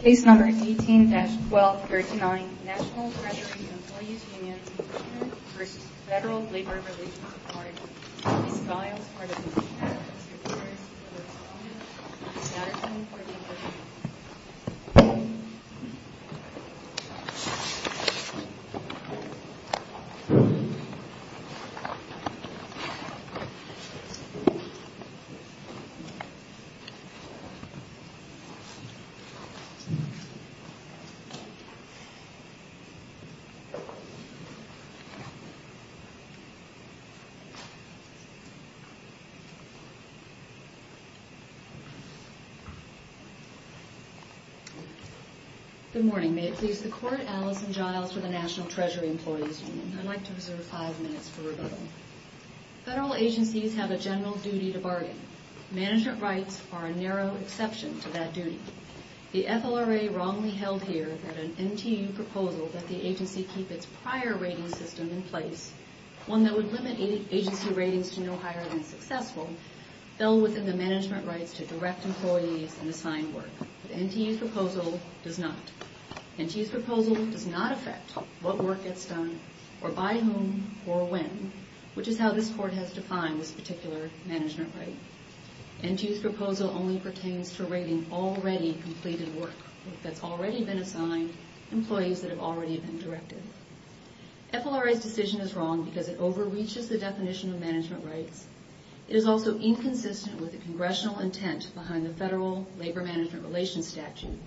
Case No. 18-1239 National Treasury Employees Union U v. FLRA Good morning. May it please the Court, Alison Giles for the National Treasury Employees Union. I'd like to reserve five minutes for rebuttal. Federal agencies have a general duty to bargain. Management rights are a narrow exception to that duty. The FLRA wrongly held here that an NTU proposal that the agency keep its prior ratings system in place, one that would limit agency ratings to no higher than successful, fell within the management rights to direct employees and assign work. The NTU's proposal does not. NTU's proposal does not affect what work gets done or by whom or when, which is how this Court has defined this particular management right. NTU's proposal only pertains to rating already completed work that's already been assigned to employees that have already been directed. FLRA's decision is wrong because it overreaches the definition of management rights. It is also inconsistent with the Congressional intent behind the Federal Labor-Management Relations Statute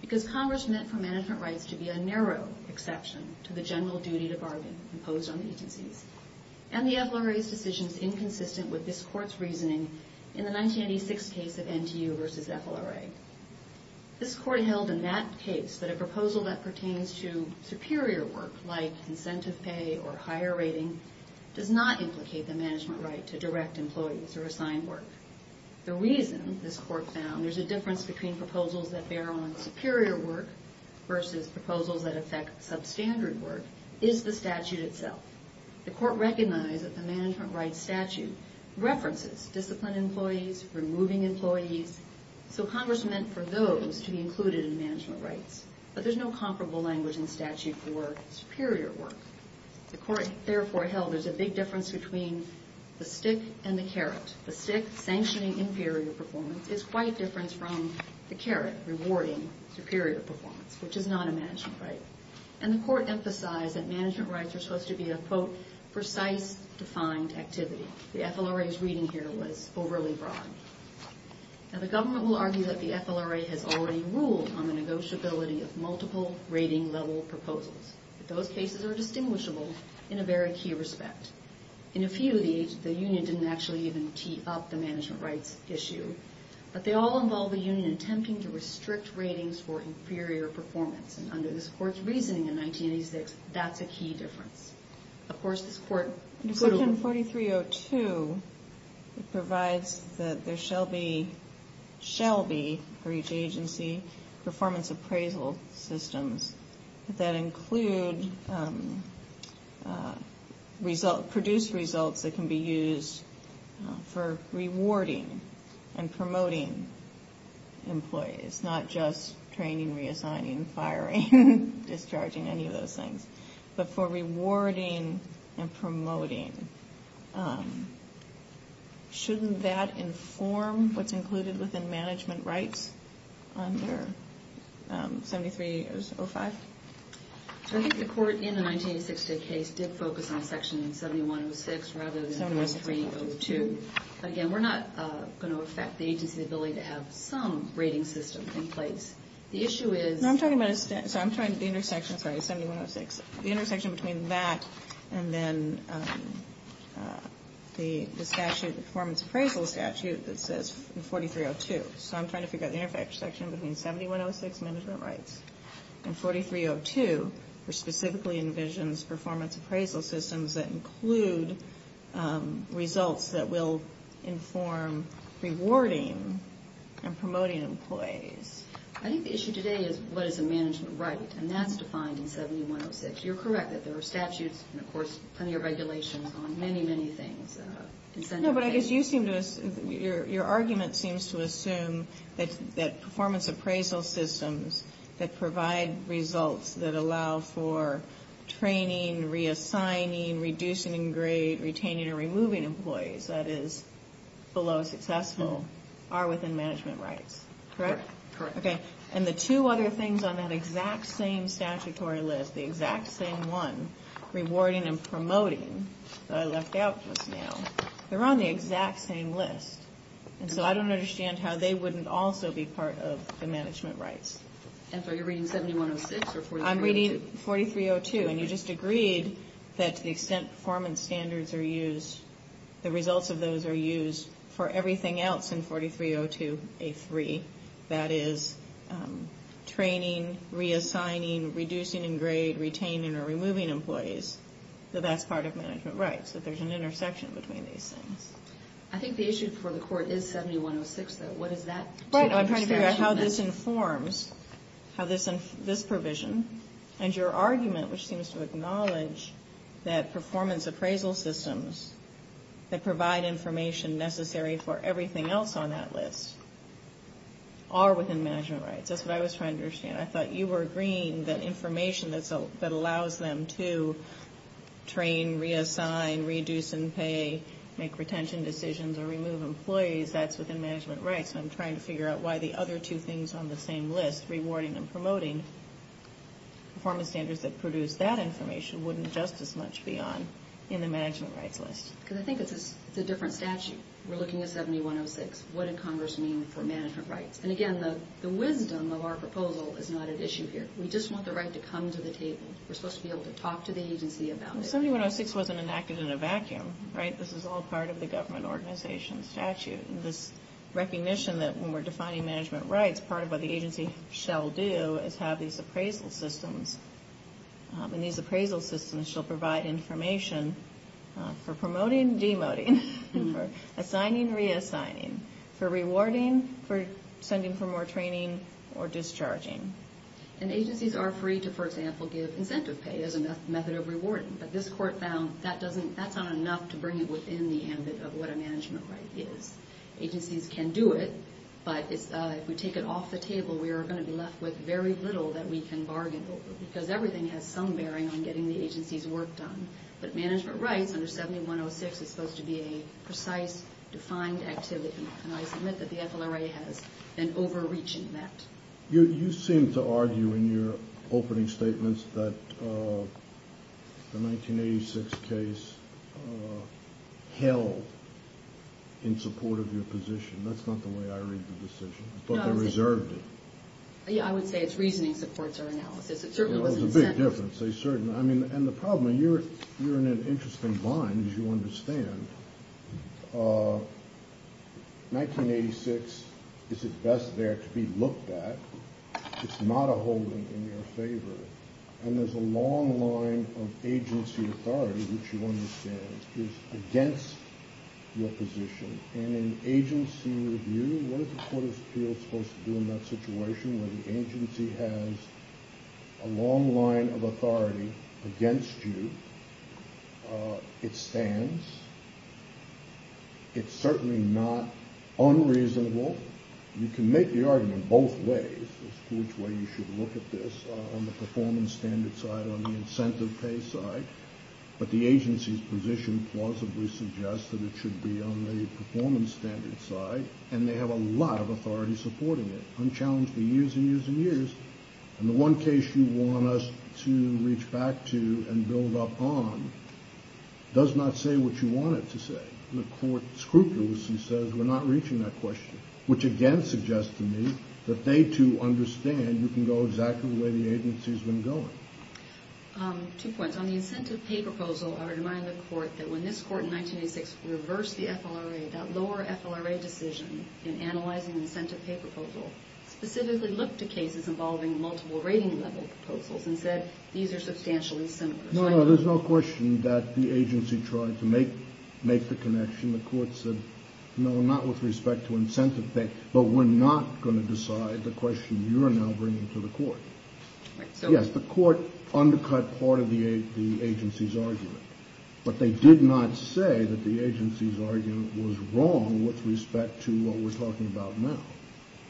because Congress meant for management rights to be a narrow exception to the general duty to bargain imposed on the agencies. And the FLRA's decision is inconsistent with this Court's reasoning in the 1986 case of NTU v. FLRA. This Court held in that case that a proposal that pertains to superior work, like incentive pay or higher rating, does not implicate the management right to direct employees or assign work. The reason this Court found there's a difference between proposals that bear on superior work versus proposals that affect substandard work is the statute itself. The Court recognized that the management rights statute references disciplined employees, removing employees, so Congress meant for those to be included in management rights. But there's no comparable language in statute for superior work. The Court therefore held there's a big difference between the stick and the carrot. The stick, sanctioning inferior performance, is quite different from the carrot, rewarding superior performance, which is not a management right. And the Court emphasized that management rights are supposed to be a, quote, precise, defined activity. The FLRA's reading here was overly broad. Now the government will argue that the FLRA has already ruled on the negotiability of multiple rating-level proposals, but those cases are distinguishable in a very key respect. In a few of these, the union didn't actually even tee up the management rights issue. But they all involve the union attempting to restrict ratings for inferior performance. And under this Court's reasoning in 1986, that's a key difference. Of course, this Court... In Section 4302, it provides that there shall be, shall be, for each agency, performance appraisal systems that include result, produce results that can be used for rewarding and promoting employees, not just training, reassigning, firing, discharging, any of those things, but for rewarding and promoting. Shouldn't that inform what's included within management rights under 7305? So I think the Court, in the 1986 case, did focus on Section 7106 rather than 4302. But again, we're not going to affect the agency's ability to have some rating system in place. The issue is... No, I'm talking about, so I'm trying to, the intersection, sorry, 7106, the intersection between that and then the statute, the performance appraisal statute that says 4302. So I'm trying to figure out the intersection between 7106, management rights, and 4302, which specifically envisions performance appraisal systems that include results that will inform rewarding and promoting employees. I think the issue today is what is a management right, and that's defined in 7106. You're correct that there are statutes and, of course, plenty of regulations on many, many things. No, but I guess you seem to, your argument seems to assume that performance appraisal systems that provide results that allow for training, reassigning, reducing and grade, retaining and removing employees, that is below successful, are within management rights. Correct? Correct. Okay, and the two other things on that exact same statutory list, the exact same one, rewarding and promoting, that I left out just now, they're on the exact same list. And so I don't understand how they wouldn't also be part of the management rights. And so you're reading 7106 or 4302? I'm reading 4302, and you just agreed that to the extent performance standards are used, the results of those are used for everything else in 4302A3, that is training, reassigning, reducing and grade, retaining or removing employees, that that's part of management rights, that there's an intersection between these things. I think the issue for the Court is 7106, though. What is that? Right, I'm trying to figure out how this informs, how this provision, and your argument, which that provide information necessary for everything else on that list, are within management rights. That's what I was trying to understand. I thought you were agreeing that information that allows them to train, reassign, reduce and pay, make retention decisions or remove employees, that's within management rights. And I'm trying to figure out why the other two things on the same list, rewarding and promoting, performance standards that produce that information wouldn't just as much be on in the management rights list. Because I think it's a different statute. We're looking at 7106. What did Congress mean for management rights? And again, the wisdom of our proposal is not at issue here. We just want the right to come to the table. We're supposed to be able to talk to the agency about it. Well, 7106 wasn't enacted in a vacuum, right? This is all part of the government organization statute, and this recognition that when we're defining management rights, part of what the agency shall do is have these appraisal systems, and these appraisal systems shall provide information for promoting, demoting, for assigning, reassigning, for rewarding, for sending for more training, or discharging. And agencies are free to, for example, give incentive pay as a method of rewarding, but this Court found that's not enough to bring it within the ambit of what a management right is. Agencies can do it, but if we take it off the table, we are going to be left with very little that we can bargain over, because everything has some bearing on getting the agency's work done. But management rights under 7106 is supposed to be a precise, defined activity, and I submit that the FLRA has been overreaching that. You seem to argue in your opening statements that the 1986 case held in support of your position. That's not the way I read the decision, but they reserved it. Yeah, I would say it's reasoning supports our analysis. It certainly wasn't incentive. There's a big difference. I mean, and the problem, you're in an interesting bind, as you understand. 1986 is at best there to be looked at. It's not a holding in your favor, and there's a long line of agency authority, which you understand, is against your position. In an agency review, what is the Court of Appeals supposed to do in that situation, where the agency has a long line of authority against you? It stands. It's certainly not unreasonable. You can make the argument both ways as to which way you should look at this, on the performance standard side, on the incentive pay side. But the agency's position plausibly suggests that it should be on the performance standard side, and they have a lot of authority supporting it, unchallenged for years and years and years. And the one case you want us to reach back to and build up on does not say what you want it to say. The Court scrupulously says we're not reaching that question, which again suggests to me that they, too, understand you can go exactly the way the agency has been going. Two points. On the incentive pay proposal, I would remind the Court that when this Court in 1986 reversed the FLRA, that lower FLRA decision in analyzing the incentive pay proposal specifically looked to cases involving multiple rating-level proposals and said, these are substantially simpler. No, no, there's no question that the agency tried to make the connection. The Court said, no, not with respect to incentive pay, but we're not going to decide the question you are now bringing to the Court. Yes, the Court undercut part of the agency's argument. But they did not say that the agency's argument was wrong with respect to what we're talking about now.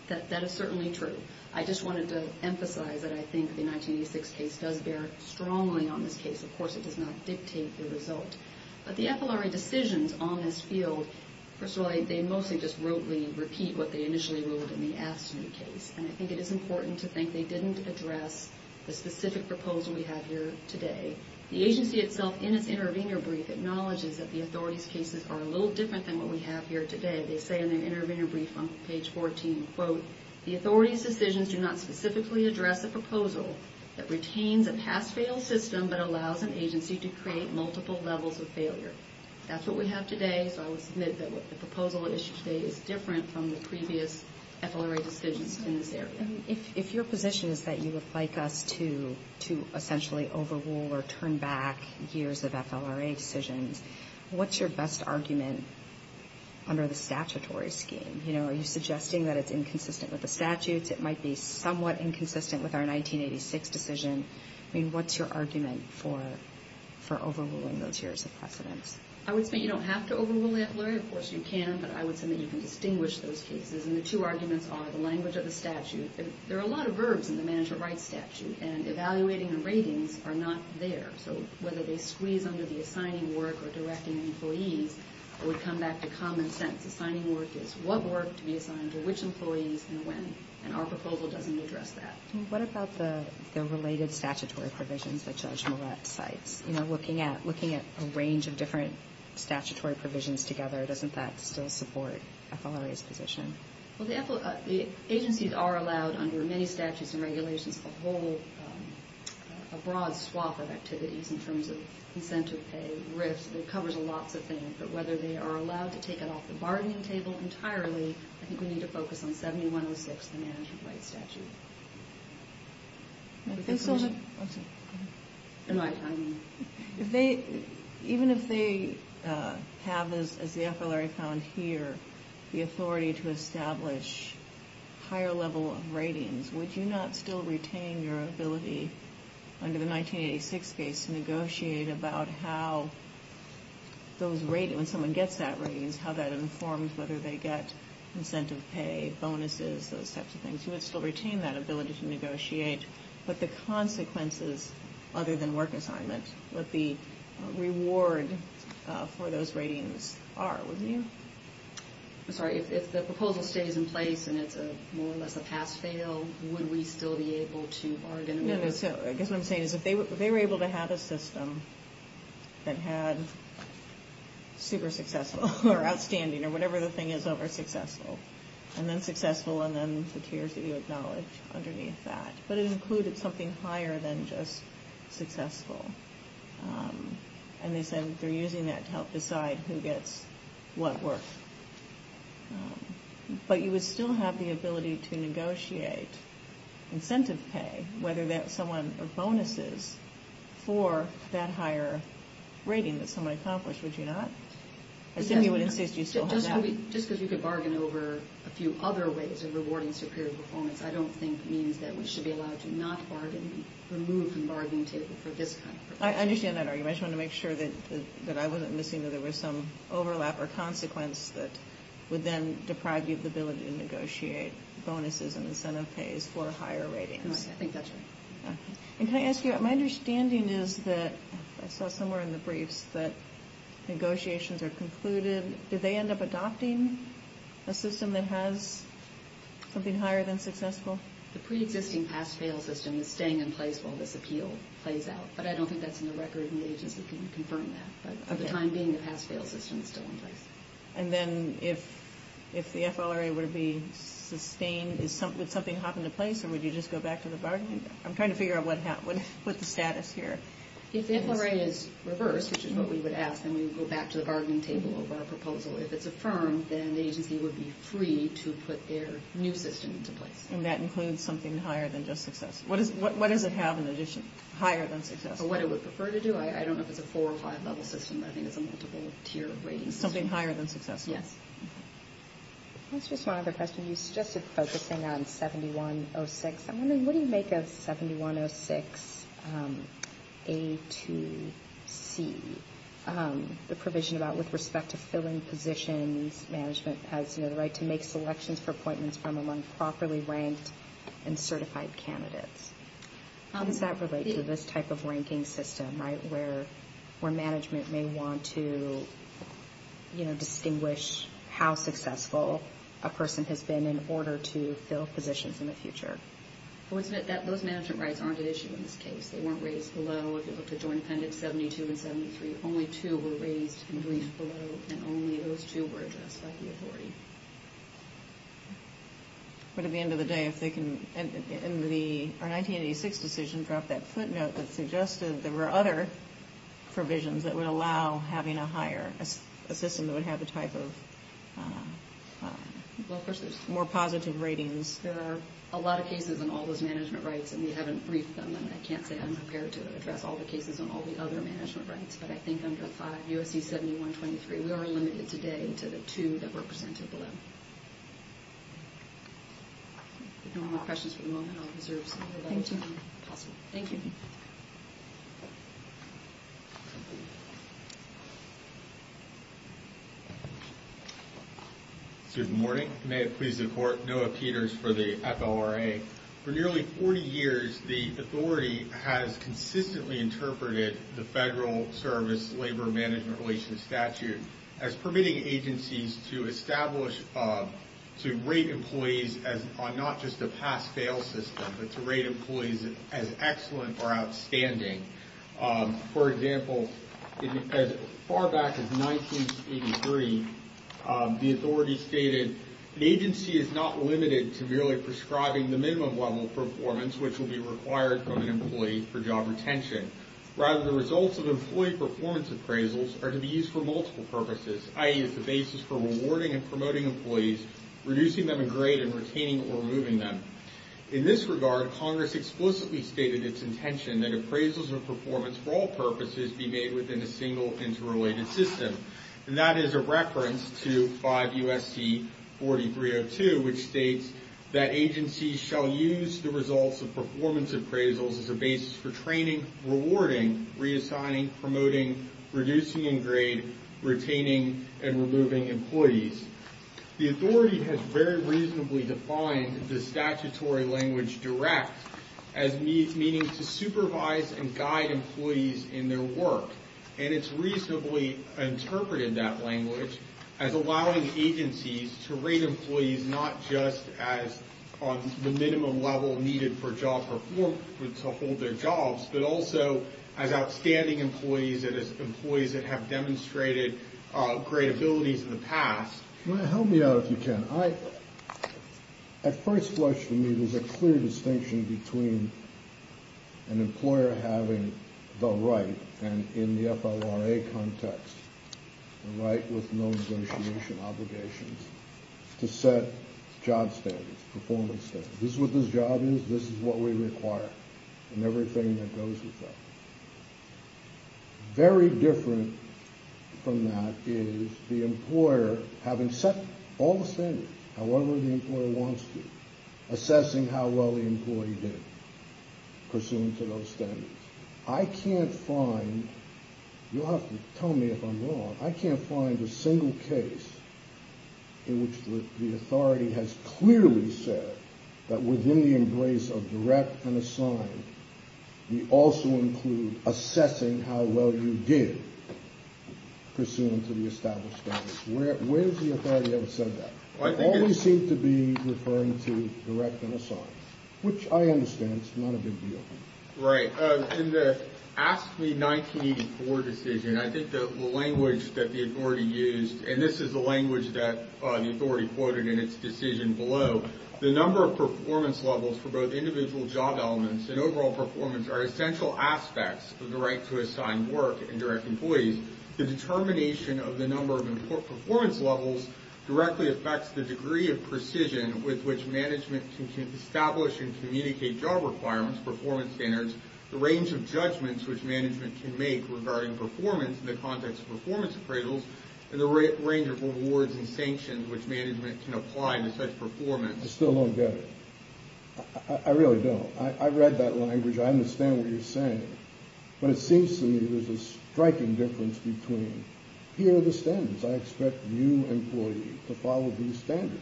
That is certainly true. I just wanted to emphasize that I think the 1986 case does bear strongly on this case. Of course, it does not dictate the result. But the FLRA decisions on this field, first of all, they mostly just rudely repeat what they initially ruled in the AFSCME case. And I think it is important to think they didn't address the specific proposal we have here today. The agency itself, in its intervener brief, acknowledges that the authorities' cases are a little different than what we have here today. They say in their intervener brief on page 14, quote, the authorities' decisions do not specifically address a proposal that retains a pass-fail system but allows an agency to create multiple levels of failure. That's what we have today. So I would submit that the proposal at issue today is different from the previous FLRA decisions in this area. If your position is that you would like us to essentially overrule or turn back years of FLRA decisions, what's your best argument under the statutory scheme? Are you suggesting that it's inconsistent with the statutes, it might be somewhat inconsistent with our 1986 decision? I mean, what's your argument for overruling those years of precedence? I would say you don't have to overrule FLRA. Of course you can, but I would say that you can distinguish those cases. And the two arguments are the language of the statute. There are a lot of verbs in the management rights statute, and evaluating the ratings are not there. So whether they squeeze under the assigning work or directing employees, it would come back to common sense. Assigning work is what work to be assigned to which employees and when. And our proposal doesn't address that. What about the related statutory provisions that Judge Moret cites? You know, looking at a range of different statutory provisions together, doesn't that still support FLRA's position? Well, the agencies are allowed under many statutes and regulations a whole broad swath of activities in terms of incentive pay, RIFs. It covers lots of things. But whether they are allowed to take it off the bargaining table entirely, I think we need to focus on 7106, the management rights statute. Even if they have, as the FLRA found here, the authority to establish higher level of ratings, would you not still retain your ability under the 1986 case to negotiate about how those ratings, when someone gets that ratings, how that informs whether they get incentive pay, bonuses, those types of things? You would still retain that ability to negotiate. But the consequences other than work assignment, what the reward for those ratings are, wouldn't you? I'm sorry. If the proposal stays in place and it's more or less a pass-fail, would we still be able to bargain? No, no. I guess what I'm saying is if they were able to have a system that had super successful or outstanding or whatever the thing is over successful. And then successful and then the tiers that you acknowledge underneath that. But it included something higher than just successful. And they said they're using that to help decide who gets what work. But you would still have the ability to negotiate incentive pay, whether that's someone or bonuses for that higher rating that someone accomplished, would you not? I assume you would insist you still have that. Just because you could bargain over a few other ways of rewarding superior performance, I don't think means that we should be allowed to not bargain, remove from the bargaining table for this kind of proposal. I understand that argument. I just wanted to make sure that I wasn't missing that there was some overlap or consequence that would then deprive you of the ability to negotiate bonuses and incentive pays for higher ratings. I think that's right. And can I ask you, my understanding is that I saw somewhere in the briefs that negotiations are concluded. Do they end up adopting a system that has something higher than successful? The pre-existing pass-fail system is staying in place while this appeal plays out. But I don't think that's in the record and the agency can confirm that. But at the time being, the pass-fail system is still in place. And then if the FLRA were to be sustained, would something hop into place or would you just go back to the bargaining table? I'm trying to figure out what the status here is. If the FLRA is reversed, which is what we would ask, then we would go back to the bargaining table of our proposal. If it's affirmed, then the agency would be free to put their new system into place. And that includes something higher than just successful. What does it have in addition, higher than successful? What it would prefer to do. I don't know if it's a four or five level system, but I think it's a multiple tier rating system. Something higher than successful. Yes. Just one other question. You suggested focusing on 7106. I'm wondering, what do you make of 7106 A to C, the provision about with respect to fill-in positions, management has the right to make selections for appointments from among properly ranked and certified candidates. How does that relate to this type of ranking system, right, where management may want to distinguish how successful a person has been in order to fill positions in the future? Those management rights aren't an issue in this case. They weren't raised below, if you look at Joint Appendix 72 and 73. Only two were raised in brief below, and only those two were addressed by the authority. But at the end of the day, if they can, in the 1986 decision, drop that footnote that suggested there were other provisions that would allow having a higher, a system that would have the type of more positive ratings. There are a lot of cases in all those management rights, and we haven't briefed them, and I can't say I'm prepared to address all the cases in all the other management rights, but I think under 5 U.S.C. 71-23, we are limited today to the two that were presented below. If no more questions for the moment, I'll reserve some more time. Thank you. Good morning. May it please the Court, Noah Peters for the FLRA. For nearly 40 years, the authority has consistently interpreted the Federal Service Labor Management Relations Statute as permitting agencies to establish, to rate employees on not just a pass-fail system, but to rate employees as excellent or outstanding. For example, as far back as 1983, the authority stated, an agency is not limited to merely prescribing the minimum level of performance which will be required from an employee for job retention. Rather, the results of employee performance appraisals are to be used for multiple purposes, i.e., as the basis for rewarding and promoting employees, reducing them in grade and retaining or removing them. In this regard, Congress explicitly stated its intention that appraisals of performance, for all purposes, be made within a single interrelated system, and that is a reference to 5 U.S.C. 4302, which states that agencies shall use the results of performance appraisals as a basis for training, rewarding, reassigning, promoting, reducing in grade, retaining, and removing employees. The authority has very reasonably defined the statutory language direct as meaning to supervise and guide employees in their work, and it's reasonably interpreted in that language as allowing agencies to rate employees not just as on the minimum level needed for job performance to hold their jobs, but also as outstanding employees and as employees that have demonstrated great abilities in the past. Can you help me out if you can? At first blush for me, there's a clear distinction between an employer having the right and in the FLRA context, the right with no negotiation obligations, to set job standards, performance standards. This is what this job is, this is what we require, and everything that goes with that. Very different from that is the employer having set all the standards, however the employer wants to, assessing how well the employee did pursuant to those standards. I can't find, you'll have to tell me if I'm wrong, I can't find a single case in which the authority has clearly said that within the embrace of direct and assigned, we also include assessing how well you did pursuant to the established standards. Where has the authority ever said that? They always seem to be referring to direct and assigned, which I understand is not a big deal. Right, in the AFSCME 1984 decision, I think the language that the authority used, and this is the language that the authority quoted in its decision below, the number of performance levels for both individual job elements and overall performance are essential aspects of the right to assigned work and direct employees. The determination of the number of performance levels directly affects the degree of precision with which management can establish and communicate job requirements, performance standards, the range of judgments which management can make regarding performance in the context of performance appraisals, and the range of rewards and sanctions which management can apply to such performance. I still don't get it. I really don't. I read that language, I understand what you're saying, but it seems to me there's a striking difference between, here are the standards, I expect you employees to follow these standards.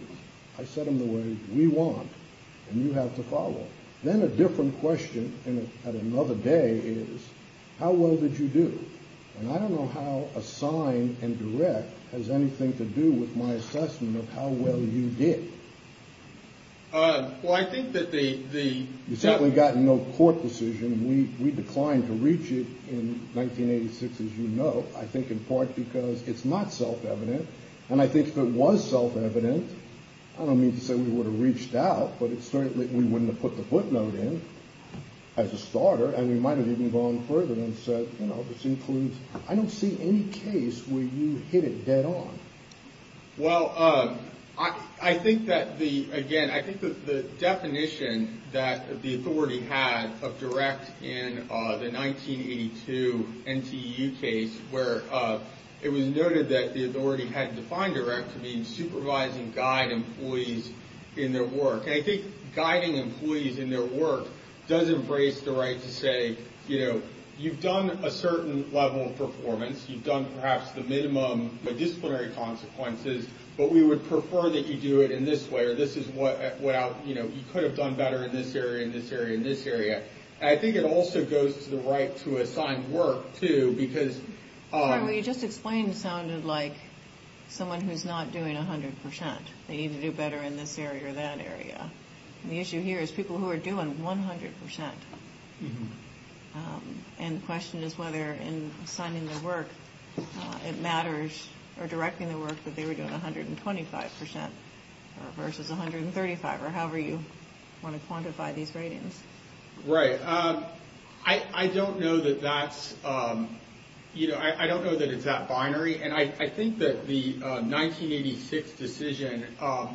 I set them the way we want, and you have to follow. Then a different question at another day is, how well did you do? And I don't know how assigned and direct has anything to do with my assessment of how well you did. Well, I think that the— You certainly got no court decision. We declined to reach it in 1986, as you know, I think in part because it's not self-evident, and I think if it was self-evident, I don't mean to say we would have reached out, but certainly we wouldn't have put the footnote in as a starter, and we might have even gone further and said, you know, this includes— I don't see any case where you hit it dead on. Well, I think that the—again, I think that the definition that the authority had of direct in the 1982 NTEU case where it was noted that the authority had defined direct to mean supervising guide employees in their work. And I think guiding employees in their work does embrace the right to say, you know, you've done a certain level of performance, you've done perhaps the minimum disciplinary consequences, but we would prefer that you do it in this way or this is what—you know, you could have done better in this area, in this area, in this area. And I think it also goes to the right to assign work, too, because— Sorry, what you just explained sounded like someone who's not doing 100 percent. They need to do better in this area or that area. And the issue here is people who are doing 100 percent. And the question is whether in assigning their work it matters, or directing their work, that they were doing 125 percent versus 135, or however you want to quantify these ratings. Right. I don't know that that's—you know, I don't know that it's that binary. And I think that the 1986 decision,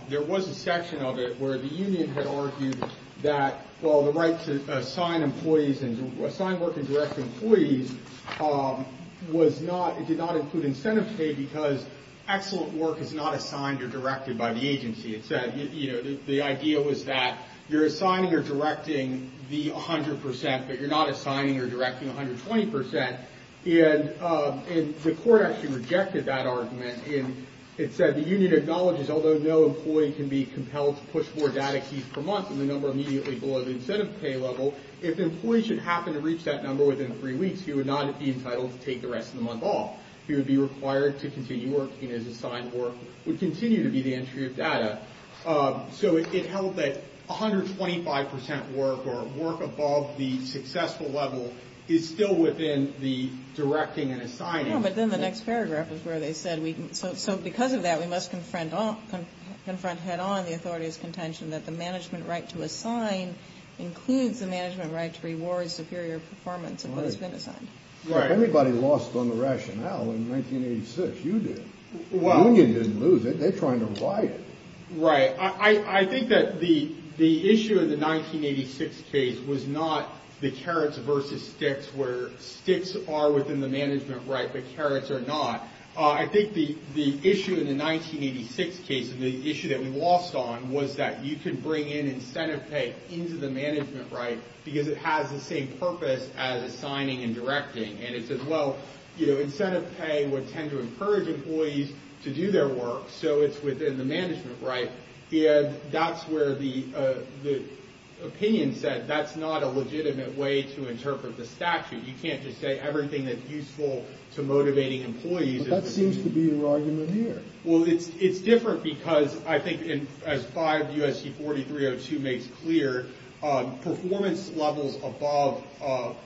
there was a section of it where the union had argued that, well, the right to assign employees and—assign work and direct employees was not— it did not include incentive pay because excellent work is not assigned or directed by the agency. It said, you know, the idea was that you're assigning or directing the 100 percent, but you're not assigning or directing 120 percent. And the court actually rejected that argument. And it said the union acknowledges, although no employee can be compelled to push more data keys per month than the number immediately below the incentive pay level, if an employee should happen to reach that number within three weeks, he would not be entitled to take the rest of the month off. He would be required to continue working as assigned work would continue to be the entry of data. So it held that 125 percent work or work above the successful level is still within the directing and assigning. But then the next paragraph is where they said, so because of that, we must confront head-on the authority's contention that the management right to assign includes the management right to reward superior performance of what has been assigned. Right. If anybody lost on the rationale in 1986, you did. Well, you didn't lose it. They're trying to buy it. Right. I think that the the issue in the 1986 case was not the carrots versus sticks where sticks are within the management. Right. The carrots are not. I think the the issue in the 1986 case, the issue that we lost on was that you can bring in incentive pay into the management. Right. Because it has the same purpose as assigning and directing. And it's as well, you know, incentive pay would tend to encourage employees to do their work. So it's within the management. Right. Yeah. That's where the the opinion said that's not a legitimate way to interpret the statute. You can't just say everything that's useful to motivating employees. That seems to be your argument here. Well, it's it's different because I think in as five U.S.C. clear performance levels above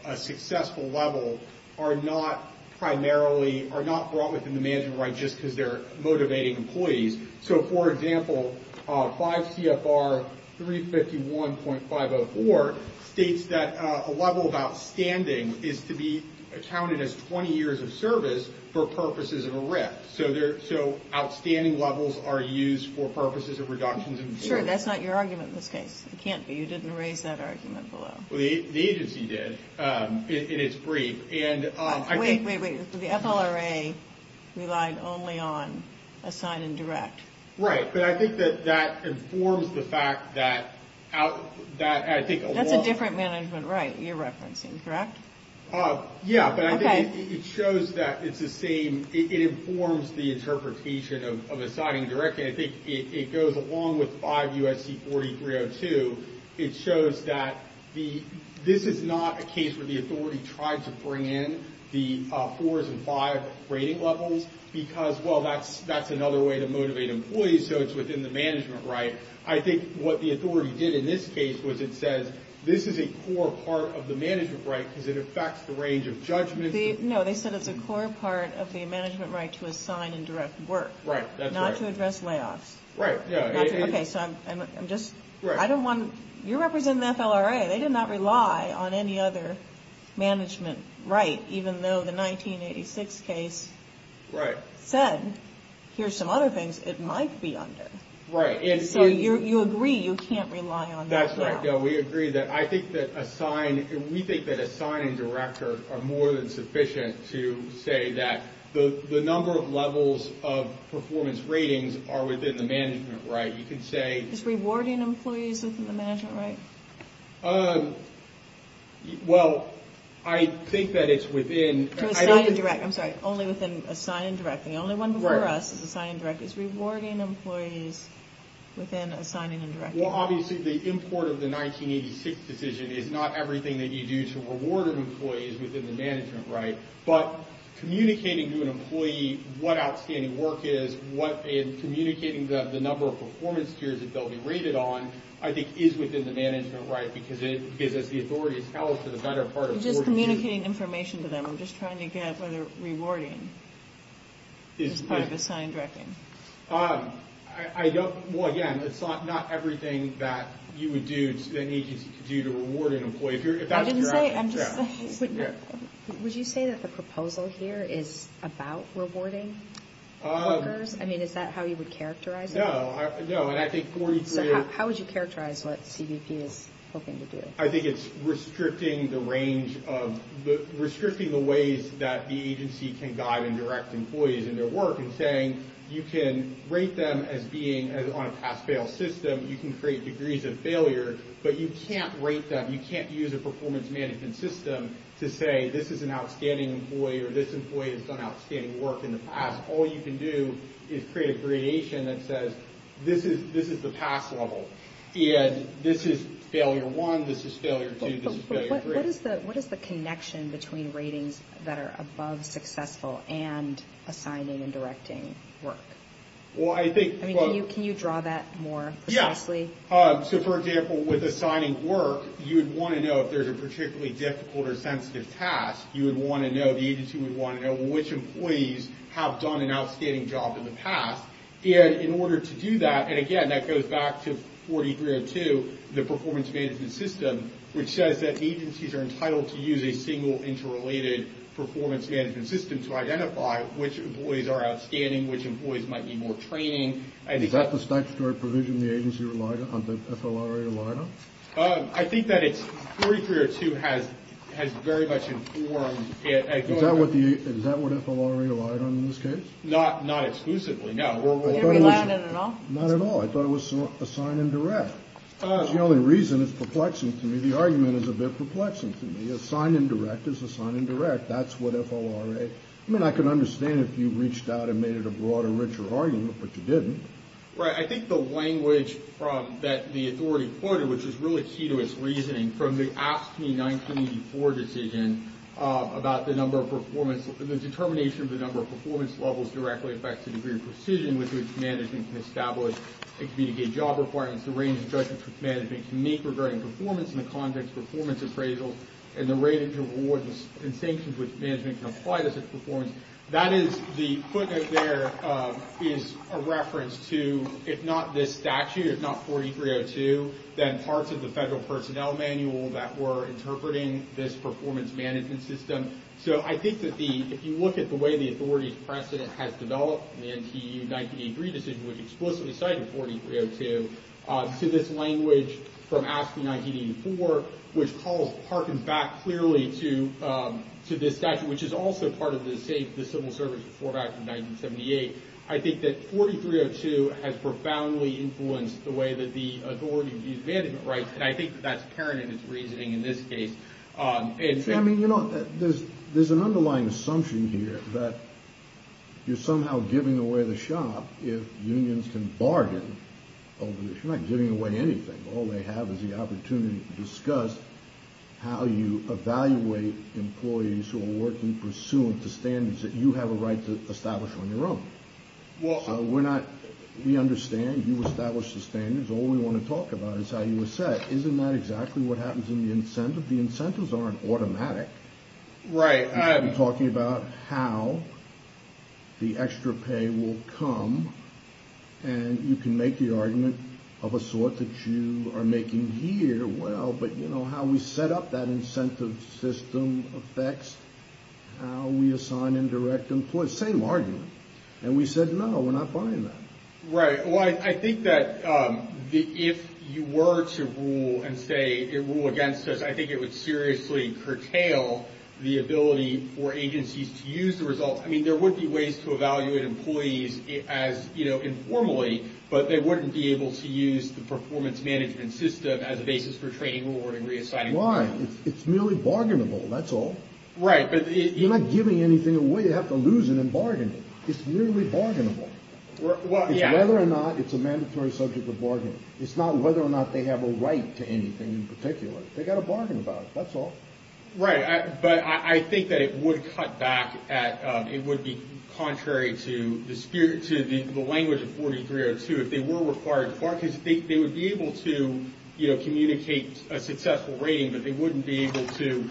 a successful level are not primarily are not brought within the management. Right. Just because they're motivating employees. So, for example, five CFR three fifty one point five or four states that a level of outstanding is to be accounted as 20 years of service for purposes of a risk. So they're so outstanding levels are used for purposes of reductions. Sure. That's not your argument in this case. It can't be. You didn't raise that argument. Well, the agency did in its brief. And I think the FLRA relied only on assign and direct. Right. But I think that that informs the fact that out that I think that's a different management. Right. You're referencing. Correct. Yeah. But I think it shows that it's the same. It informs the interpretation of assigning direct. I think it goes along with five U.S.C. forty three or two. It shows that the this is not a case where the authority tried to bring in the fours and five rating levels because, well, that's that's another way to motivate employees. So it's within the management. Right. I think what the authority did in this case was it says this is a core part of the management. Right. Because it affects the range of judgment. No, they said it's a core part of the management right to assign and direct work. Right. Not to address layoffs. Right. Yeah. OK. So I'm just right. I don't want you represent the FLRA. They did not rely on any other management. Right. Even though the nineteen eighty six case. Right. Said here's some other things it might be under. Right. So you agree you can't rely on. That's right. We agree that I think that assign. We think that a sign in director are more than sufficient to say that the number of levels of performance ratings are within the management. Right. You can say it's rewarding employees within the management. Right. Well, I think that it's within the direct. I'm sorry. Only within a sign and directing the only one for us is the sign and direct is rewarding employees within assigning and direct. Well, obviously, the import of the 1986 decision is not everything that you do to reward employees within the management. Right. But communicating to an employee what outstanding work is, what communicating the number of performance tiers that they'll be rated on, I think, is within the management. Right. Because it gives us the authority to tell us to the better part of just communicating information to them. I'm just trying to get rewarding. It's part of the sign directing. I don't. Well, again, it's not everything that you would do. It's the need to do to reward an employee here. I didn't say I'm just. Would you say that the proposal here is about rewarding workers? I mean, is that how you would characterize. No, no. And I think 43. How would you characterize what CBP is hoping to do? I think it's restricting the range of the restricting the ways that the agency can guide and direct employees in their work and saying, you can rate them as being on a pass fail system. You can create degrees of failure, but you can't rate them. You can't use a performance management system to say this is an outstanding employee or this employee has done outstanding work in the past. All you can do is create a gradation that says this is this is the past level. And this is failure one. This is failure. What is the what is the connection between ratings that are above successful and assigning and directing work? Well, I think you can you draw that more. Yes. So, for example, with assigning work, you would want to know if there's a particularly difficult or sensitive task. You would want to know the agency would want to know which employees have done an outstanding job in the past in order to do that. And again, that goes back to forty three or two, the performance management system, which says that agencies are entitled to use a single interrelated performance management system to identify which employees are outstanding, which employees might need more training. Is that the statutory provision the agency relied on, the FLRA relied on? I think that it's thirty three or two has has very much informed. Is that what the FLRA relied on in this case? Not not exclusively. No. Not at all. I thought it was a sign and direct. The only reason it's perplexing to me. The argument is a bit perplexing to me. A sign and direct is a sign and direct. That's what FLRA. I mean, I can understand if you reached out and made it a broader, richer argument, but you didn't. Right. I think the language that the authority quoted, which is really key to its reasoning from the AFSCME 1984 decision about the number of performance, the determination of the number of performance levels directly affects the degree of precision with which management can establish and communicate job requirements. The range of judgment management can make regarding performance in the context of performance appraisal and the rate of reward and sanctions which management can apply to such performance. That is the footnote there is a reference to, if not this statute, if not forty three or two, then parts of the federal personnel manual that were interpreting this performance management system. So I think that the if you look at the way the authorities precedent has developed in the NTU 1983 decision, which explicitly cited forty three or two to this language from AFSCME 1984, which calls harkens back clearly to to this statute, which is also part of the same. The Civil Service Reform Act of 1978. I think that forty three or two has profoundly influenced the way that the authorities use management rights. And I think that's apparent in its reasoning in this case. I mean, you know, there's there's an underlying assumption here that you're somehow giving away the shop. If unions can bargain over this, you're not giving away anything. All they have is the opportunity to discuss how you evaluate employees who are working pursuant to standards that you have a right to establish on your own. Well, we're not we understand you establish the standards. All we want to talk about is how you were set. Isn't that exactly what happens in the incentive? The incentives aren't automatic. Right. I'm talking about how the extra pay will come and you can make the argument of a sort that you are making here. Well, but you know how we set up that incentive system affects how we assign indirect employees. Same argument. And we said, no, we're not buying that. Right. Well, I think that if you were to rule and say it will against us, I think it would seriously curtail the ability for agencies to use the results. I mean, there would be ways to evaluate employees as, you know, informally, but they wouldn't be able to use the performance management system as a basis for training, rewarding, reassigning. Why? It's merely bargainable. That's all right. But you're not giving anything away. You have to lose it and bargain. It's merely bargainable whether or not it's a mandatory subject of bargain. It's not whether or not they have a right to anything in particular. They got to bargain about it. That's all right. But I think that it would cut back. It would be contrary to the spirit, to the language of 43 or two. If they were required to bargain, they would be able to communicate a successful rating, but they wouldn't be able to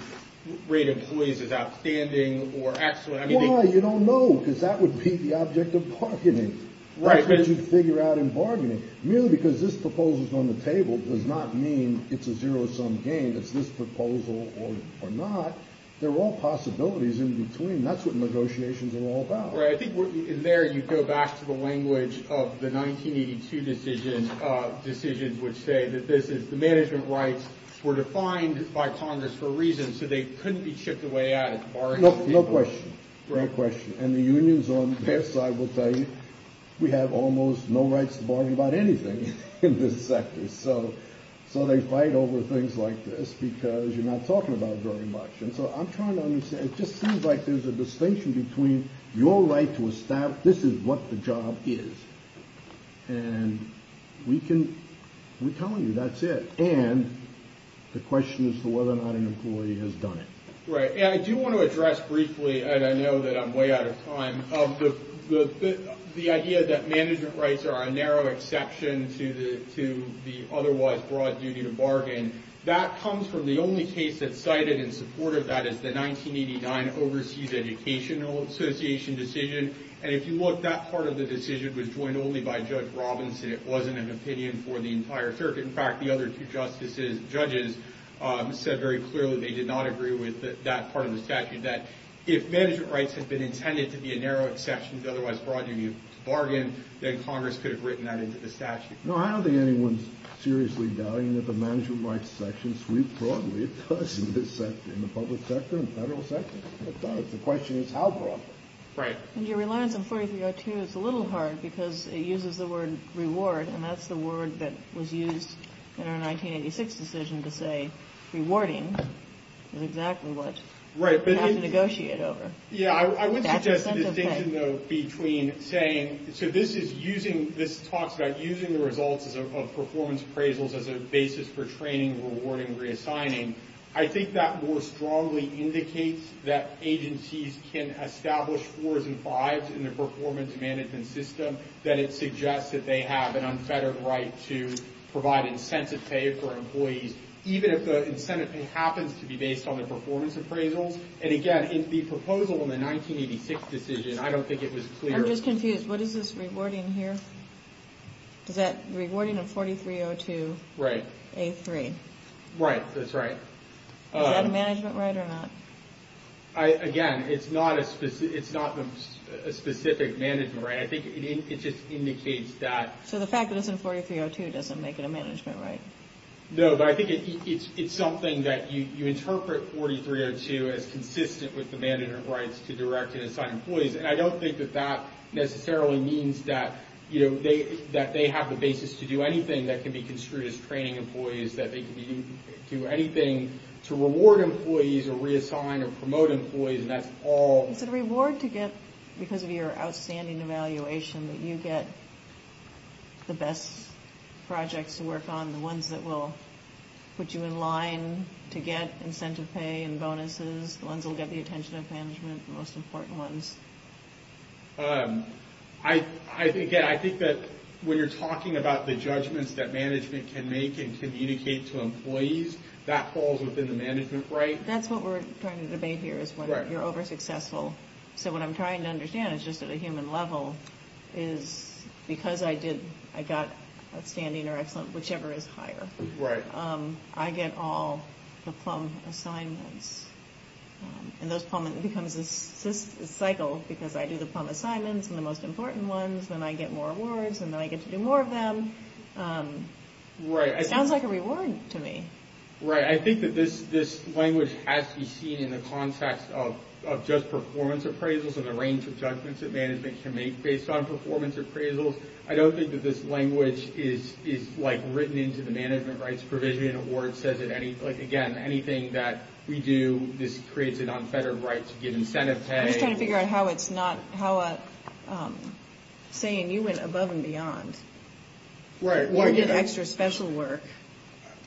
rate employees as outstanding or excellent. Why? You don't know, because that would be the object of bargaining. That's what you'd figure out in bargaining. Merely because this proposal is on the table does not mean it's a zero-sum game. It's this proposal or not. There are all possibilities in between. That's what negotiations are all about. Right. I think in there you go back to the language of the 1982 decisions, decisions which say that this is the management rights were defined by Congress for a reason, so they couldn't be chipped away at. No question. No question. And the unions on their side will tell you we have almost no rights to bargain about anything in this sector. So they fight over things like this because you're not talking about it very much. And so I'm trying to understand. It just seems like there's a distinction between your right to establish this is what the job is. And we can tell you that's it. And the question is whether or not an employee has done it. Right. And I do want to address briefly, and I know that I'm way out of time, of the idea that management rights are a narrow exception to the otherwise broad duty to bargain. That comes from the only case that cited in support of that is the 1989 Overseas Educational Association decision. And if you look, that part of the decision was joined only by Judge Robinson. It wasn't an opinion for the entire circuit. In fact, the other two judges said very clearly they did not agree with that part of the statute, that if management rights had been intended to be a narrow exception to the otherwise broad duty to bargain, then Congress could have written that into the statute. No, I don't think anyone's seriously doubting that the management rights section sweeps broadly. It does in the public sector and federal sector. It does. The question is how broadly. Right. And your reliance on 4302 is a little hard because it uses the word reward, and that's the word that was used in our 1986 decision to say rewarding is exactly what we have to negotiate over. Yeah, I would suggest a distinction, though, between saying, so this is using, this talks about using the results of performance appraisals as a basis for training, rewarding, reassigning. I think that more strongly indicates that agencies can establish 4s and 5s in the performance management system that it suggests that they have an unfettered right to provide incentive pay for employees, even if the incentive pay happens to be based on their performance appraisals. And again, in the proposal in the 1986 decision, I don't think it was clear. I'm just confused. What is this rewarding here? Is that rewarding a 4302? Right. A3. Right. That's right. Is that a management right or not? Again, it's not a specific management right. I think it just indicates that. So the fact that it's in 4302 doesn't make it a management right? No, but I think it's something that you interpret 4302 as consistent with the management rights to direct and assign employees. And I don't think that that necessarily means that, you know, that they have the basis to do anything that can be construed as training employees, that they can do anything to reward employees or reassign or promote employees, and that's all. Is it a reward to get, because of your outstanding evaluation, that you get the best projects to work on, the ones that will put you in line to get incentive pay and bonuses, the ones that will get the attention of management, the most important ones? Again, I think that when you're talking about the judgments that management can make and communicate to employees, that falls within the management right. That's what we're trying to debate here is whether you're over-successful. So what I'm trying to understand is just at a human level, is because I got outstanding or excellent, whichever is higher, I get all the PLUM assignments. And those PLUM becomes a cycle because I do the PLUM assignments and the most important ones, then I get more awards and then I get to do more of them. It sounds like a reward to me. Right. I think that this language has to be seen in the context of just performance appraisals and the range of judgments that management can make based on performance appraisals. I don't think that this language is written into the Management Rights Provision Award. It says, again, anything that we do, this creates a non-federal right to get incentive pay. I'm just trying to figure out how it's not saying you went above and beyond. Right. You get extra special work.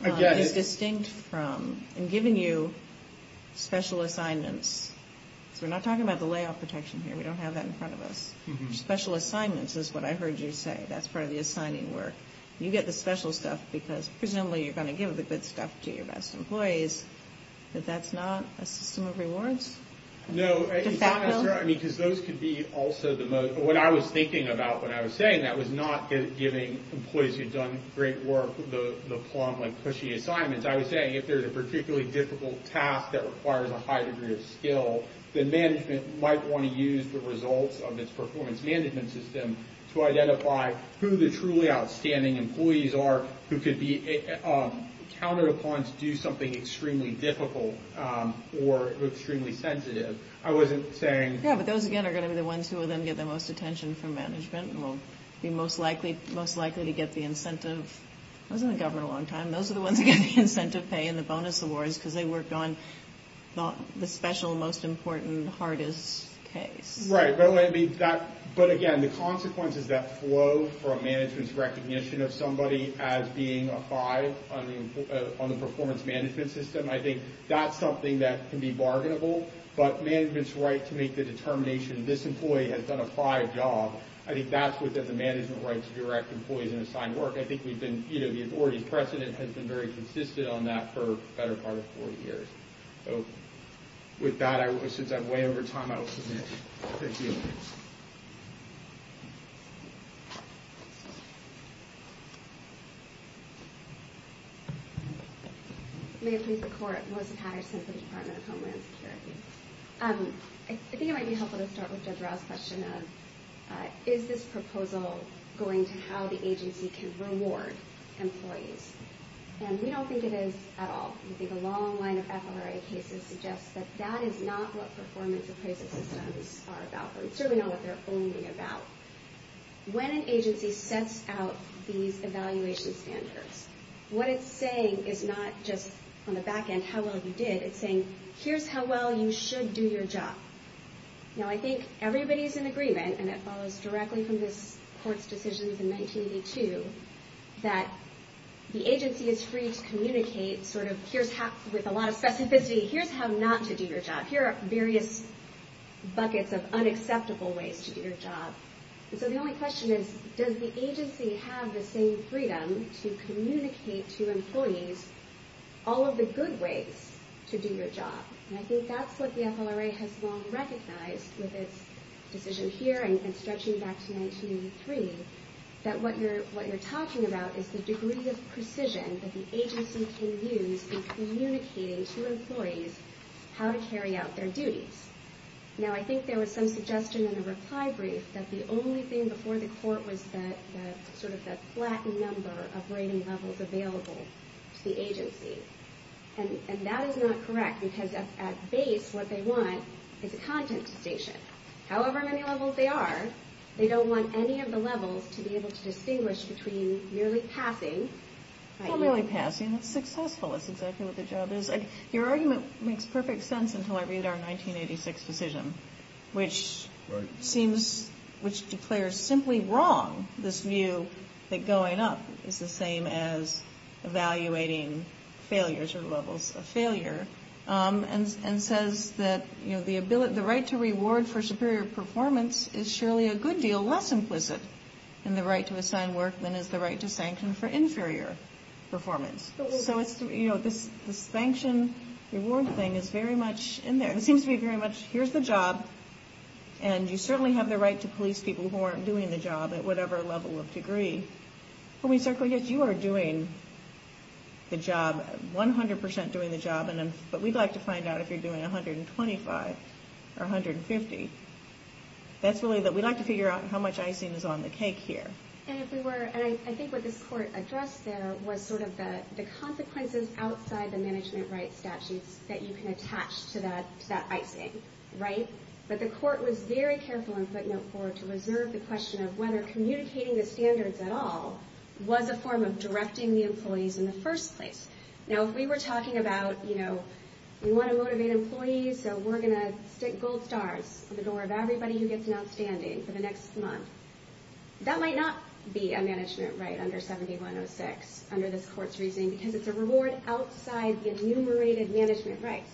I get it. It's distinct from giving you special assignments. So we're not talking about the layoff protection here. We don't have that in front of us. Special assignments is what I heard you say. That's part of the assigning work. You get the special stuff because presumably you're going to give the good stuff to your best employees, but that's not a system of rewards? No. Because those could be also the most – what I was thinking about when I was saying that was not giving employees who've done great work the PLUM-like, pushy assignments. I was saying if there's a particularly difficult task that requires a high degree of skill, then management might want to use the results of its performance management system to identify who the truly outstanding employees are who could be counted upon to do something extremely difficult or extremely sensitive. I wasn't saying – Yeah, but those, again, are going to be the ones who will then get the most attention from management and will be most likely to get the incentive. I was in the government a long time. Those are the ones who get the incentive pay and the bonus awards because they worked on the special, most important, hardest case. Right. But, again, the consequences that flow from management's recognition of somebody as being a five on the performance management system, I think that's something that can be bargainable. But management's right to make the determination this employee has done a five job, I think that's within the management rights to direct employees in assigned work. I think the authority's precedent has been very consistent on that for the better part of four years. With that, since I'm way over time, I will submit. Thank you. May it please the Court. Melissa Patterson from the Department of Homeland Security. I think it might be helpful to start with Judge Rouse's question of, is this proposal going to how the agency can reward employees? And we don't think it is at all. I think a long line of FLRA cases suggests that that is not what performance appraisal systems are about. We certainly know what they're only about. When an agency sets out these evaluation standards, what it's saying is not just on the back end how well you did. It's saying, here's how well you should do your job. Now, I think everybody's in agreement, and it follows directly from this Court's decisions in 1982, that the agency is free to communicate sort of, with a lot of specificity, here's how not to do your job. Here are various buckets of unacceptable ways to do your job. And so the only question is, does the agency have the same freedom to communicate to employees all of the good ways to do your job? And I think that's what the FLRA has long recognized with its decision here, and stretching back to 1983, that what you're talking about is the degree of precision that the agency can use in communicating to employees how to carry out their duties. Now, I think there was some suggestion in a reply brief that the only thing before the Court was that, sort of that flattened number of rating levels available to the agency. And that is not correct, because at base, what they want is a content station. However many levels they are, they don't want any of the levels to be able to distinguish between merely passing. Well, merely passing. That's successful. That's exactly what the job is. Your argument makes perfect sense until I read our 1986 decision, which seems, which declares simply wrong this view that going up is the same as evaluating failures or levels of failure, and says that the right to reward for superior performance is surely a good deal less implicit in the right to assign work than is the right to sanction for inferior performance. So it's, you know, this sanction-reward thing is very much in there. It seems to be very much, here's the job, and you certainly have the right to police people who aren't doing the job at whatever level of degree. When we circle, yes, you are doing the job, 100 percent doing the job, but we'd like to find out if you're doing 125 or 150. That's really, we'd like to figure out how much icing is on the cake here. And if we were, and I think what this court addressed there was sort of the consequences outside the management rights statutes that you can attach to that icing, right? But the court was very careful in footnote 4 to reserve the question of whether communicating the standards at all was a form of directing the employees in the first place. Now, if we were talking about, you know, we want to motivate employees, so we're going to stick gold stars in the door of everybody who gets an outstanding for the next month, that might not be a management right under 7106 under this court's reasoning because it's a reward outside the enumerated management rights.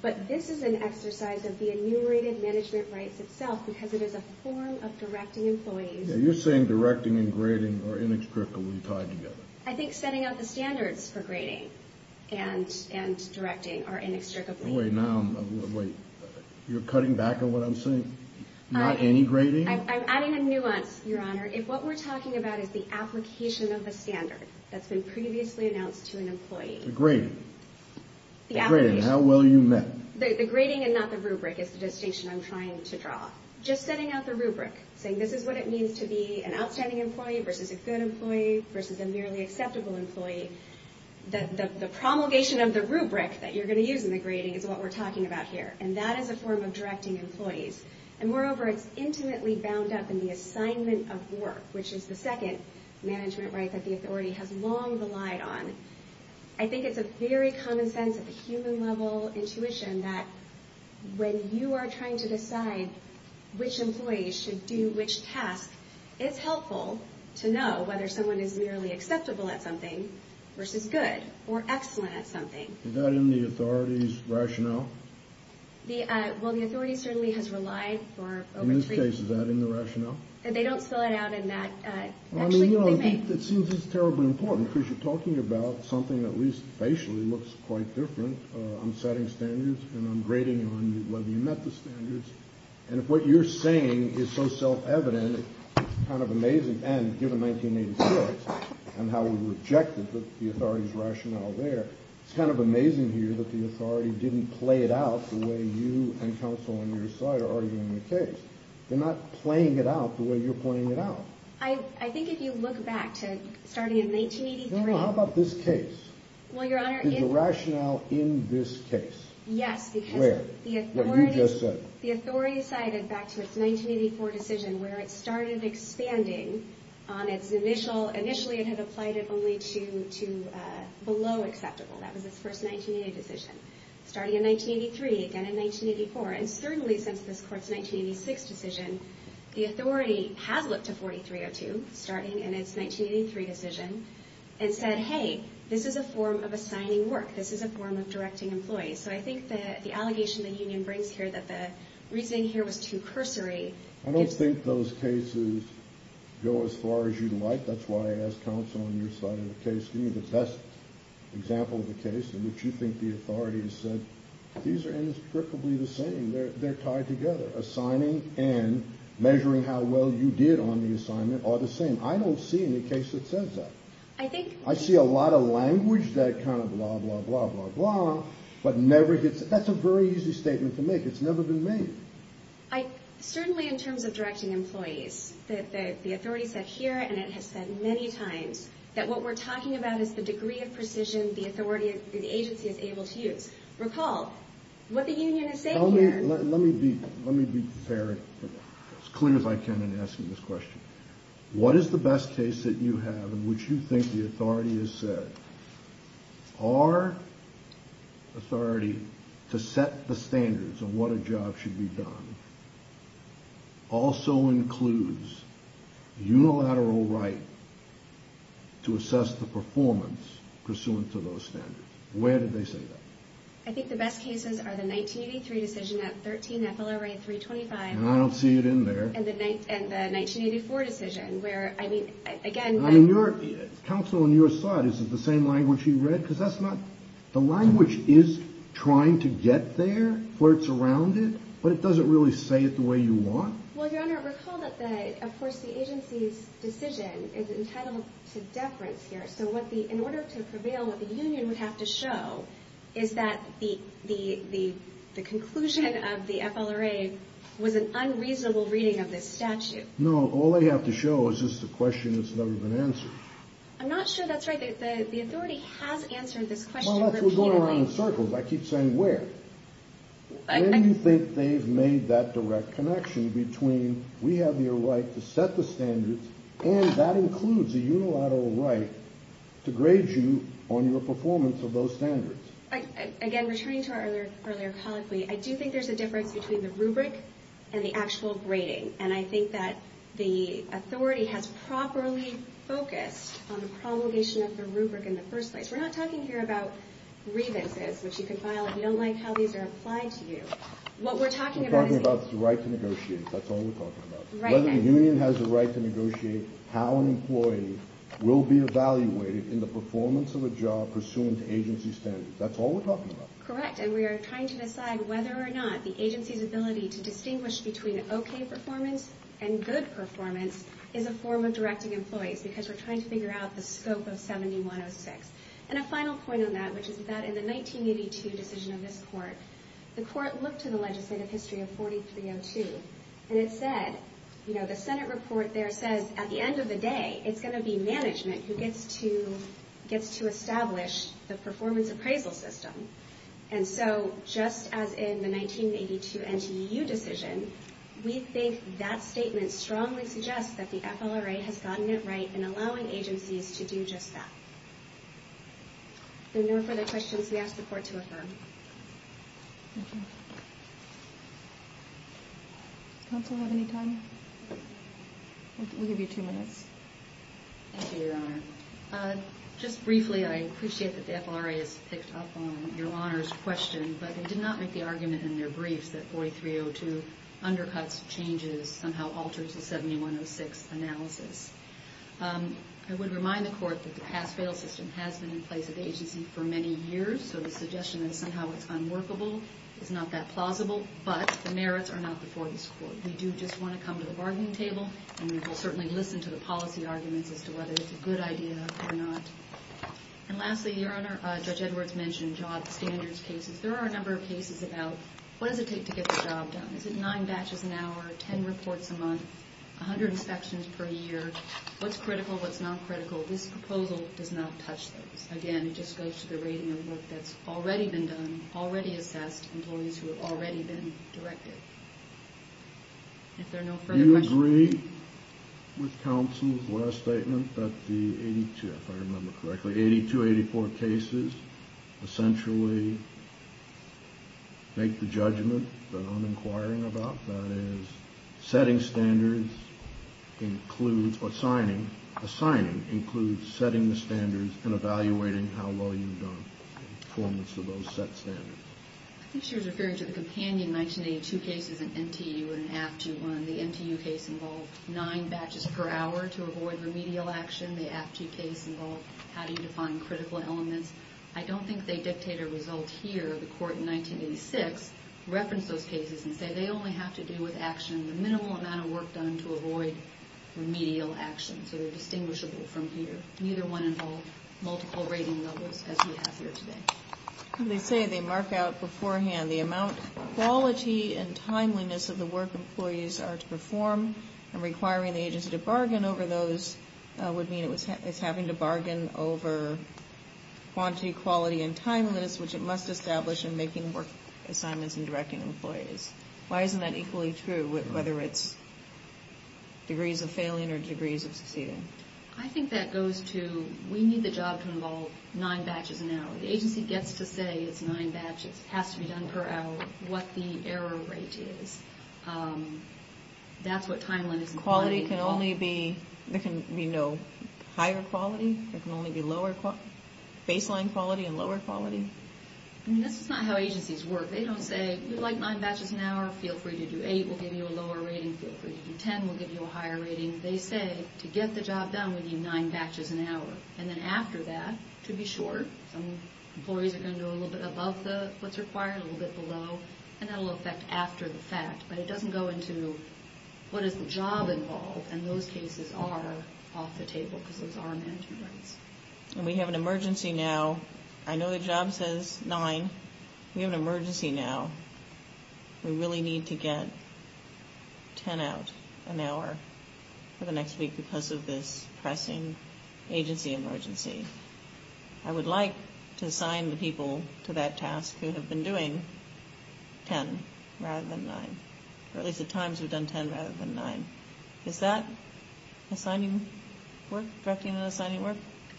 But this is an exercise of the enumerated management rights itself because it is a form of directing employees. Yeah, you're saying directing and grading are inextricably tied together. I think setting out the standards for grading and directing are inextricably tied together. Wait, now, wait, you're cutting back on what I'm saying? Not any grading? I'm adding a nuance, Your Honor. If what we're talking about is the application of the standard that's been previously announced to an employee. The grading. The application. The grading, how well you met. The grading and not the rubric is the distinction I'm trying to draw. Just setting out the rubric, saying this is what it means to be an outstanding employee versus a good employee versus a merely acceptable employee, the promulgation of the rubric that you're going to use in the grading is what we're talking about here, and that is a form of directing employees. And moreover, it's intimately bound up in the assignment of work, which is the second management right that the authority has long relied on. I think it's a very common sense of human-level intuition that when you are trying to decide which employees should do which task, it's helpful to know whether someone is merely acceptable at something versus good or excellent at something. Is that in the authority's rationale? Well, the authority certainly has relied for over three years. In this case, is that in the rationale? They don't spell it out in that. It seems it's terribly important because you're talking about something that at least facially looks quite different. I'm setting standards, and I'm grading on whether you met the standards. And if what you're saying is so self-evident, it's kind of amazing. And given 1984 and how we rejected the authority's rationale there, it's kind of amazing here that the authority didn't play it out the way you and counsel on your side are arguing the case. They're not playing it out the way you're playing it out. I think if you look back to starting in 1983. No, no, how about this case? Well, Your Honor, in— Is the rationale in this case? Yes, because— Where? What you just said. The authority sided back to its 1984 decision where it started expanding on its initial— initially it had applied it only to below acceptable. That was its first 1988 decision. Starting in 1983, again in 1984, and certainly since this Court's 1986 decision, the authority has looked to 4302, starting in its 1983 decision, and said, hey, this is a form of assigning work. This is a form of directing employees. So I think the allegation the union brings here that the reasoning here was too cursory gives— I don't think those cases go as far as you'd like. That's why I asked counsel on your side of the case to give me the best example of a case in which you think the authority has said, these are inextricably the same. They're tied together. Assigning and measuring how well you did on the assignment are the same. I don't see any case that says that. I think— That's a very easy statement to make. It's never been made. Certainly in terms of directing employees, the authority said here, and it has said many times, that what we're talking about is the degree of precision the agency is able to use. Recall, what the union is saying here— Let me be fair, as clear as I can in asking this question. What is the best case that you have in which you think the authority has said, our authority to set the standards of what a job should be done also includes unilateral right to assess the performance pursuant to those standards? Where did they say that? I think the best cases are the 1983 decision at 13 FLRA 325— And I don't see it in there. And the 1984 decision, where, I mean, again— Counsel, in your side, is it the same language you read? Because that's not—the language is trying to get there, flirts around it, but it doesn't really say it the way you want. Well, Your Honor, recall that, of course, the agency's decision is entitled to deference here. So in order to prevail, what the union would have to show is that the conclusion of the FLRA was an unreasonable reading of this statute. No, all they have to show is just a question that's never been answered. I'm not sure that's right. The authority has answered this question repeatedly. Well, that's what's going around in circles. I keep saying where. Where do you think they've made that direct connection between we have your right to set the standards, and that includes a unilateral right to grade you on your performance of those standards? Again, returning to our earlier colloquy, I do think there's a difference between the rubric and the actual grading. And I think that the authority has properly focused on the promulgation of the rubric in the first place. We're not talking here about grievances, which you can file if you don't like how these are applied to you. What we're talking about is— We're talking about the right to negotiate. That's all we're talking about. Right. Whether the union has the right to negotiate how an employee will be evaluated in the performance of a job pursuant to agency standards. That's all we're talking about. Correct. And we are trying to decide whether or not the agency's ability to distinguish between okay performance and good performance is a form of directing employees, because we're trying to figure out the scope of 7106. And a final point on that, which is that in the 1982 decision of this court, the court looked at the legislative history of 4302, and it said—the Senate report there says at the end of the day, it's going to be management who gets to establish the performance appraisal system. And so, just as in the 1982 NTU decision, we think that statement strongly suggests that the FLRA has gotten it right in allowing agencies to do just that. If there are no further questions, we ask the court to affirm. Thank you. Does counsel have any time? We'll give you two minutes. Thank you, Your Honor. Just briefly, I appreciate that the FLRA has picked up on Your Honor's question, but they did not make the argument in their briefs that 4302 undercuts changes, somehow alters the 7106 analysis. I would remind the court that the pass-fail system has been in place at the agency for many years, so the suggestion that somehow it's unworkable is not that plausible, but the merits are not before this court. We do just want to come to the bargaining table, and we will certainly listen to the policy arguments as to whether it's a good idea or not. And lastly, Your Honor, Judge Edwards mentioned job standards cases. There are a number of cases about what does it take to get the job done. Is it nine batches an hour, ten reports a month, 100 inspections per year? What's critical, what's not critical? This proposal does not touch those. Again, it just goes to the rating of work that's already been done, already assessed, employees who have already been directed. If there are no further questions. Do you agree with counsel's last statement that the 82, if I remember correctly, 82-84 cases essentially make the judgment that I'm inquiring about, that is, setting standards includes or assigning, assigning includes setting the standards and evaluating how well you've done in performance of those set standards? I think she was referring to the companion 1982 cases, an NTU and an AFGU one. The NTU case involved nine batches per hour to avoid remedial action. The AFGU case involved how do you define critical elements. I don't think they dictate a result here. The court in 1986 referenced those cases and said they only have to do with action, the minimal amount of work done to avoid remedial action. So they're distinguishable from here. Neither one involved multiple rating levels as we have here today. They say they mark out beforehand the amount of quality and timeliness of the work employees are to perform. And requiring the agency to bargain over those would mean it's having to bargain over quantity, quality, and timeliness, which it must establish in making work assignments and directing employees. Why isn't that equally true, whether it's degrees of failing or degrees of succeeding? I think that goes to we need the job to involve nine batches an hour. The agency gets to say it's nine batches. It has to be done per hour, what the error rate is. That's what timeliness and quality involve. Quality can only be, there can be no higher quality? There can only be baseline quality and lower quality? This is not how agencies work. They don't say we'd like nine batches an hour. Feel free to do eight. We'll give you a lower rating. Feel free to do ten. We'll give you a higher rating. They say to get the job done, we need nine batches an hour. And then after that, to be sure, some employees are going to do a little bit above what's required, a little bit below. And that will affect after the fact. But it doesn't go into what is the job involved. And those cases are off the table because those are management rights. And we have an emergency now. I know the job says nine. We have an emergency now. We really need to get ten out an hour for the next week because of this pressing agency emergency. I would like to assign the people to that task who have been doing ten rather than nine. Or at least at times we've done ten rather than nine. Is that assigning work, directing and assigning work?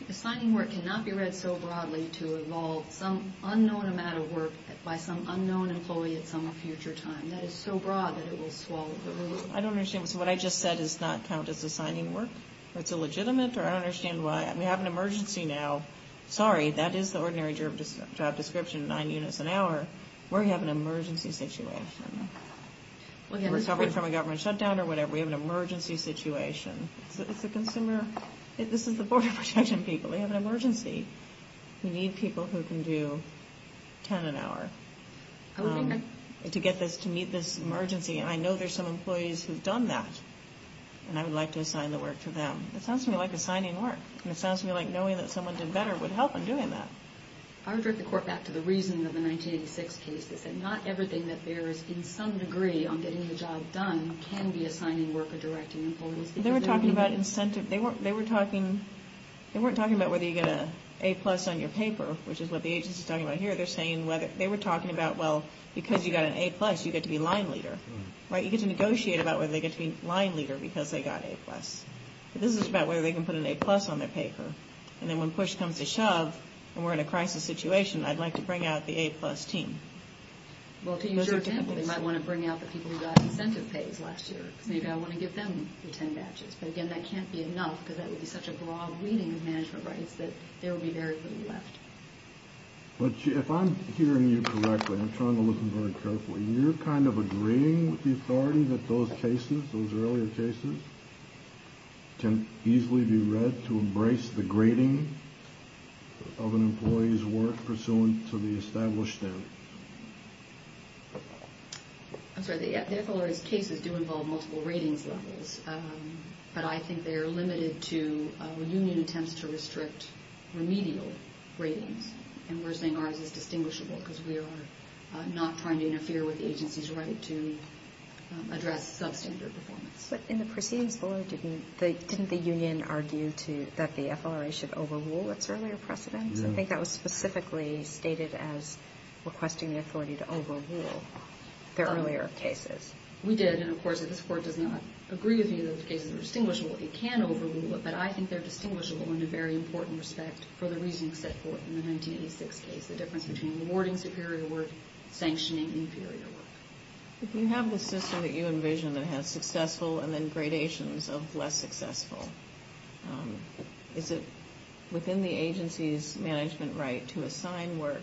Assigning work cannot be read so broadly to involve some unknown amount of work by some unknown employee at some future time. That is so broad that it will swallow the room. I don't understand. So what I just said does not count as assigning work? Or it's illegitimate? Or I don't understand why. We have an emergency now. Sorry, that is the ordinary job description, nine units an hour. We're having an emergency situation. We're recovering from a government shutdown or whatever. We have an emergency situation. It's the consumer. This is the Border Protection people. We have an emergency. We need people who can do ten an hour to get this, to meet this emergency. And I know there's some employees who've done that. And I would like to assign the work to them. It sounds to me like assigning work. And it sounds to me like knowing that someone did better would help in doing that. I would direct the Court back to the reasoning of the 1986 case that said not everything that bears in some degree on getting the job done can be assigning work or directing employees. They were talking about incentive. They weren't talking about whether you get an A-plus on your paper, which is what the agency is talking about here. They're saying whether they were talking about, well, because you got an A-plus, you get to be line leader. Right? You get to negotiate about whether they get to be line leader because they got A-plus. This is about whether they can put an A-plus on their paper. And then when push comes to shove and we're in a crisis situation, I'd like to bring out the A-plus team. Well, to use your example, they might want to bring out the people who got incentive pays last year because maybe I want to give them the ten batches. But, again, that can't be enough because that would be such a broad reading of management rights that there would be very little left. But if I'm hearing you correctly, I'm trying to listen very carefully, you're kind of agreeing with the authority that those cases, those earlier cases, can easily be read to embrace the grading of an employee's work pursuant to the established standards? I'm sorry. The FLRA's cases do involve multiple ratings levels. But I think they are limited to where union attempts to restrict remedial ratings. And we're saying ours is distinguishable because we are not trying to interfere with the agency's right to address substandard performance. But in the proceedings below, didn't the union argue that the FLRA should overrule its earlier precedents? I think that was specifically stated as requesting the authority to overrule their earlier cases. We did. And, of course, if this Court does not agree with me that the cases are distinguishable, it can overrule it. But I think they're distinguishable in a very important respect for the reasoning set forth in the 1986 case, the difference between awarding superior work, sanctioning inferior work. If you have the system that you envision that has successful and then gradations of less successful, is it within the agency's management right to assign work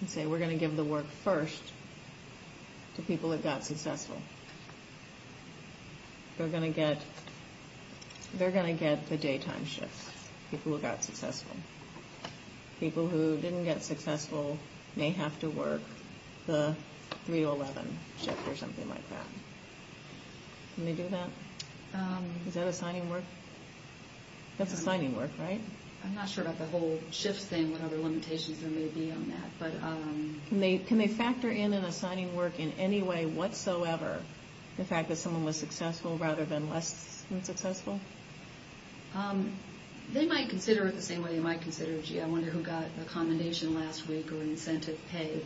and say, we're going to give the work first to people that got successful? They're going to get the daytime shifts, people who got successful. People who didn't get successful may have to work the 3-11 shift or something like that. Can they do that? Is that assigning work? That's assigning work, right? I'm not sure about the whole shift thing, what other limitations there may be on that. Can they factor in an assigning work in any way whatsoever, the fact that someone was successful rather than less successful? They might consider it the same way they might consider, gee, I wonder who got accommodation last week or incentive pay.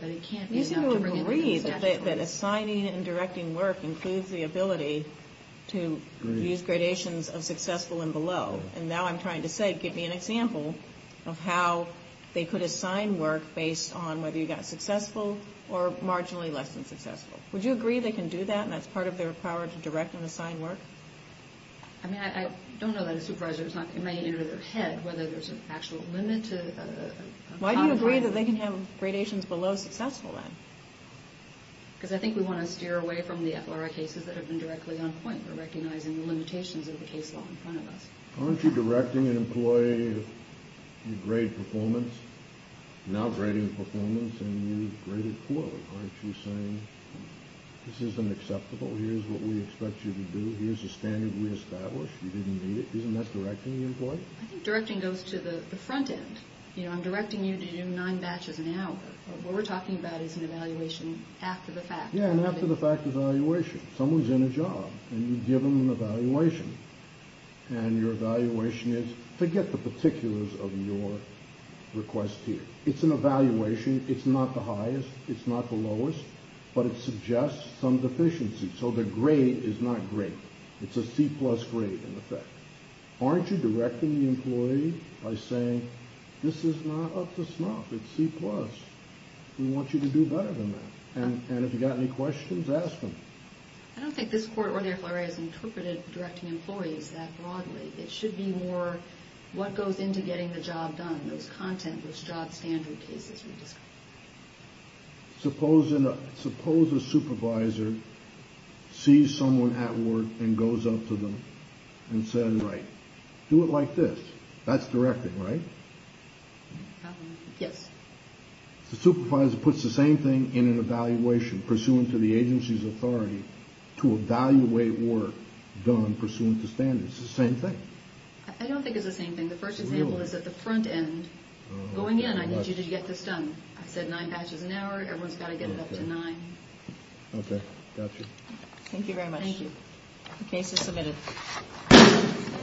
You seem to agree that assigning and directing work includes the ability to use gradations of successful and below, and now I'm trying to say give me an example of how they could assign work based on whether you got successful or marginally less than successful. Would you agree they can do that and that's part of their power to direct and assign work? I mean, I don't know that as supervisors. It might get into their head whether there's an actual limit to a contract. Would you agree that they can have gradations below successful, then? Because I think we want to steer away from the FLRA cases that have been directly on point. We're recognizing the limitations of the case law in front of us. Aren't you directing an employee if you grade performance? You're now grading performance and you've graded poorly. Aren't you saying this isn't acceptable? Here's what we expect you to do. Here's the standard we established. You didn't meet it. Isn't that directing the employee? I think directing goes to the front end. I'm directing you to do nine batches an hour. What we're talking about is an evaluation after the fact. Yeah, an after-the-fact evaluation. Someone's in a job and you give them an evaluation. And your evaluation is, forget the particulars of your request here. It's an evaluation. It's not the highest. It's not the lowest. But it suggests some deficiency. So the grade is not great. It's a C-plus grade, in effect. Aren't you directing the employee by saying, this is not up to snuff? It's C-plus. We want you to do better than that. And if you've got any questions, ask them. I don't think this court, or the FLRA, has interpreted directing employees that broadly. It should be more what goes into getting the job done, those contentless job standard cases we discussed. Suppose a supervisor sees someone at work and goes up to them and says, right, do it like this. That's directing, right? Yes. The supervisor puts the same thing in an evaluation pursuant to the agency's authority to evaluate work done pursuant to standards. It's the same thing. I don't think it's the same thing. The first example is at the front end. Going in, I need you to get this done. I said nine batches an hour. Everyone's got to get it up to nine. Okay. Got you. Thank you very much. Thank you. The case is submitted.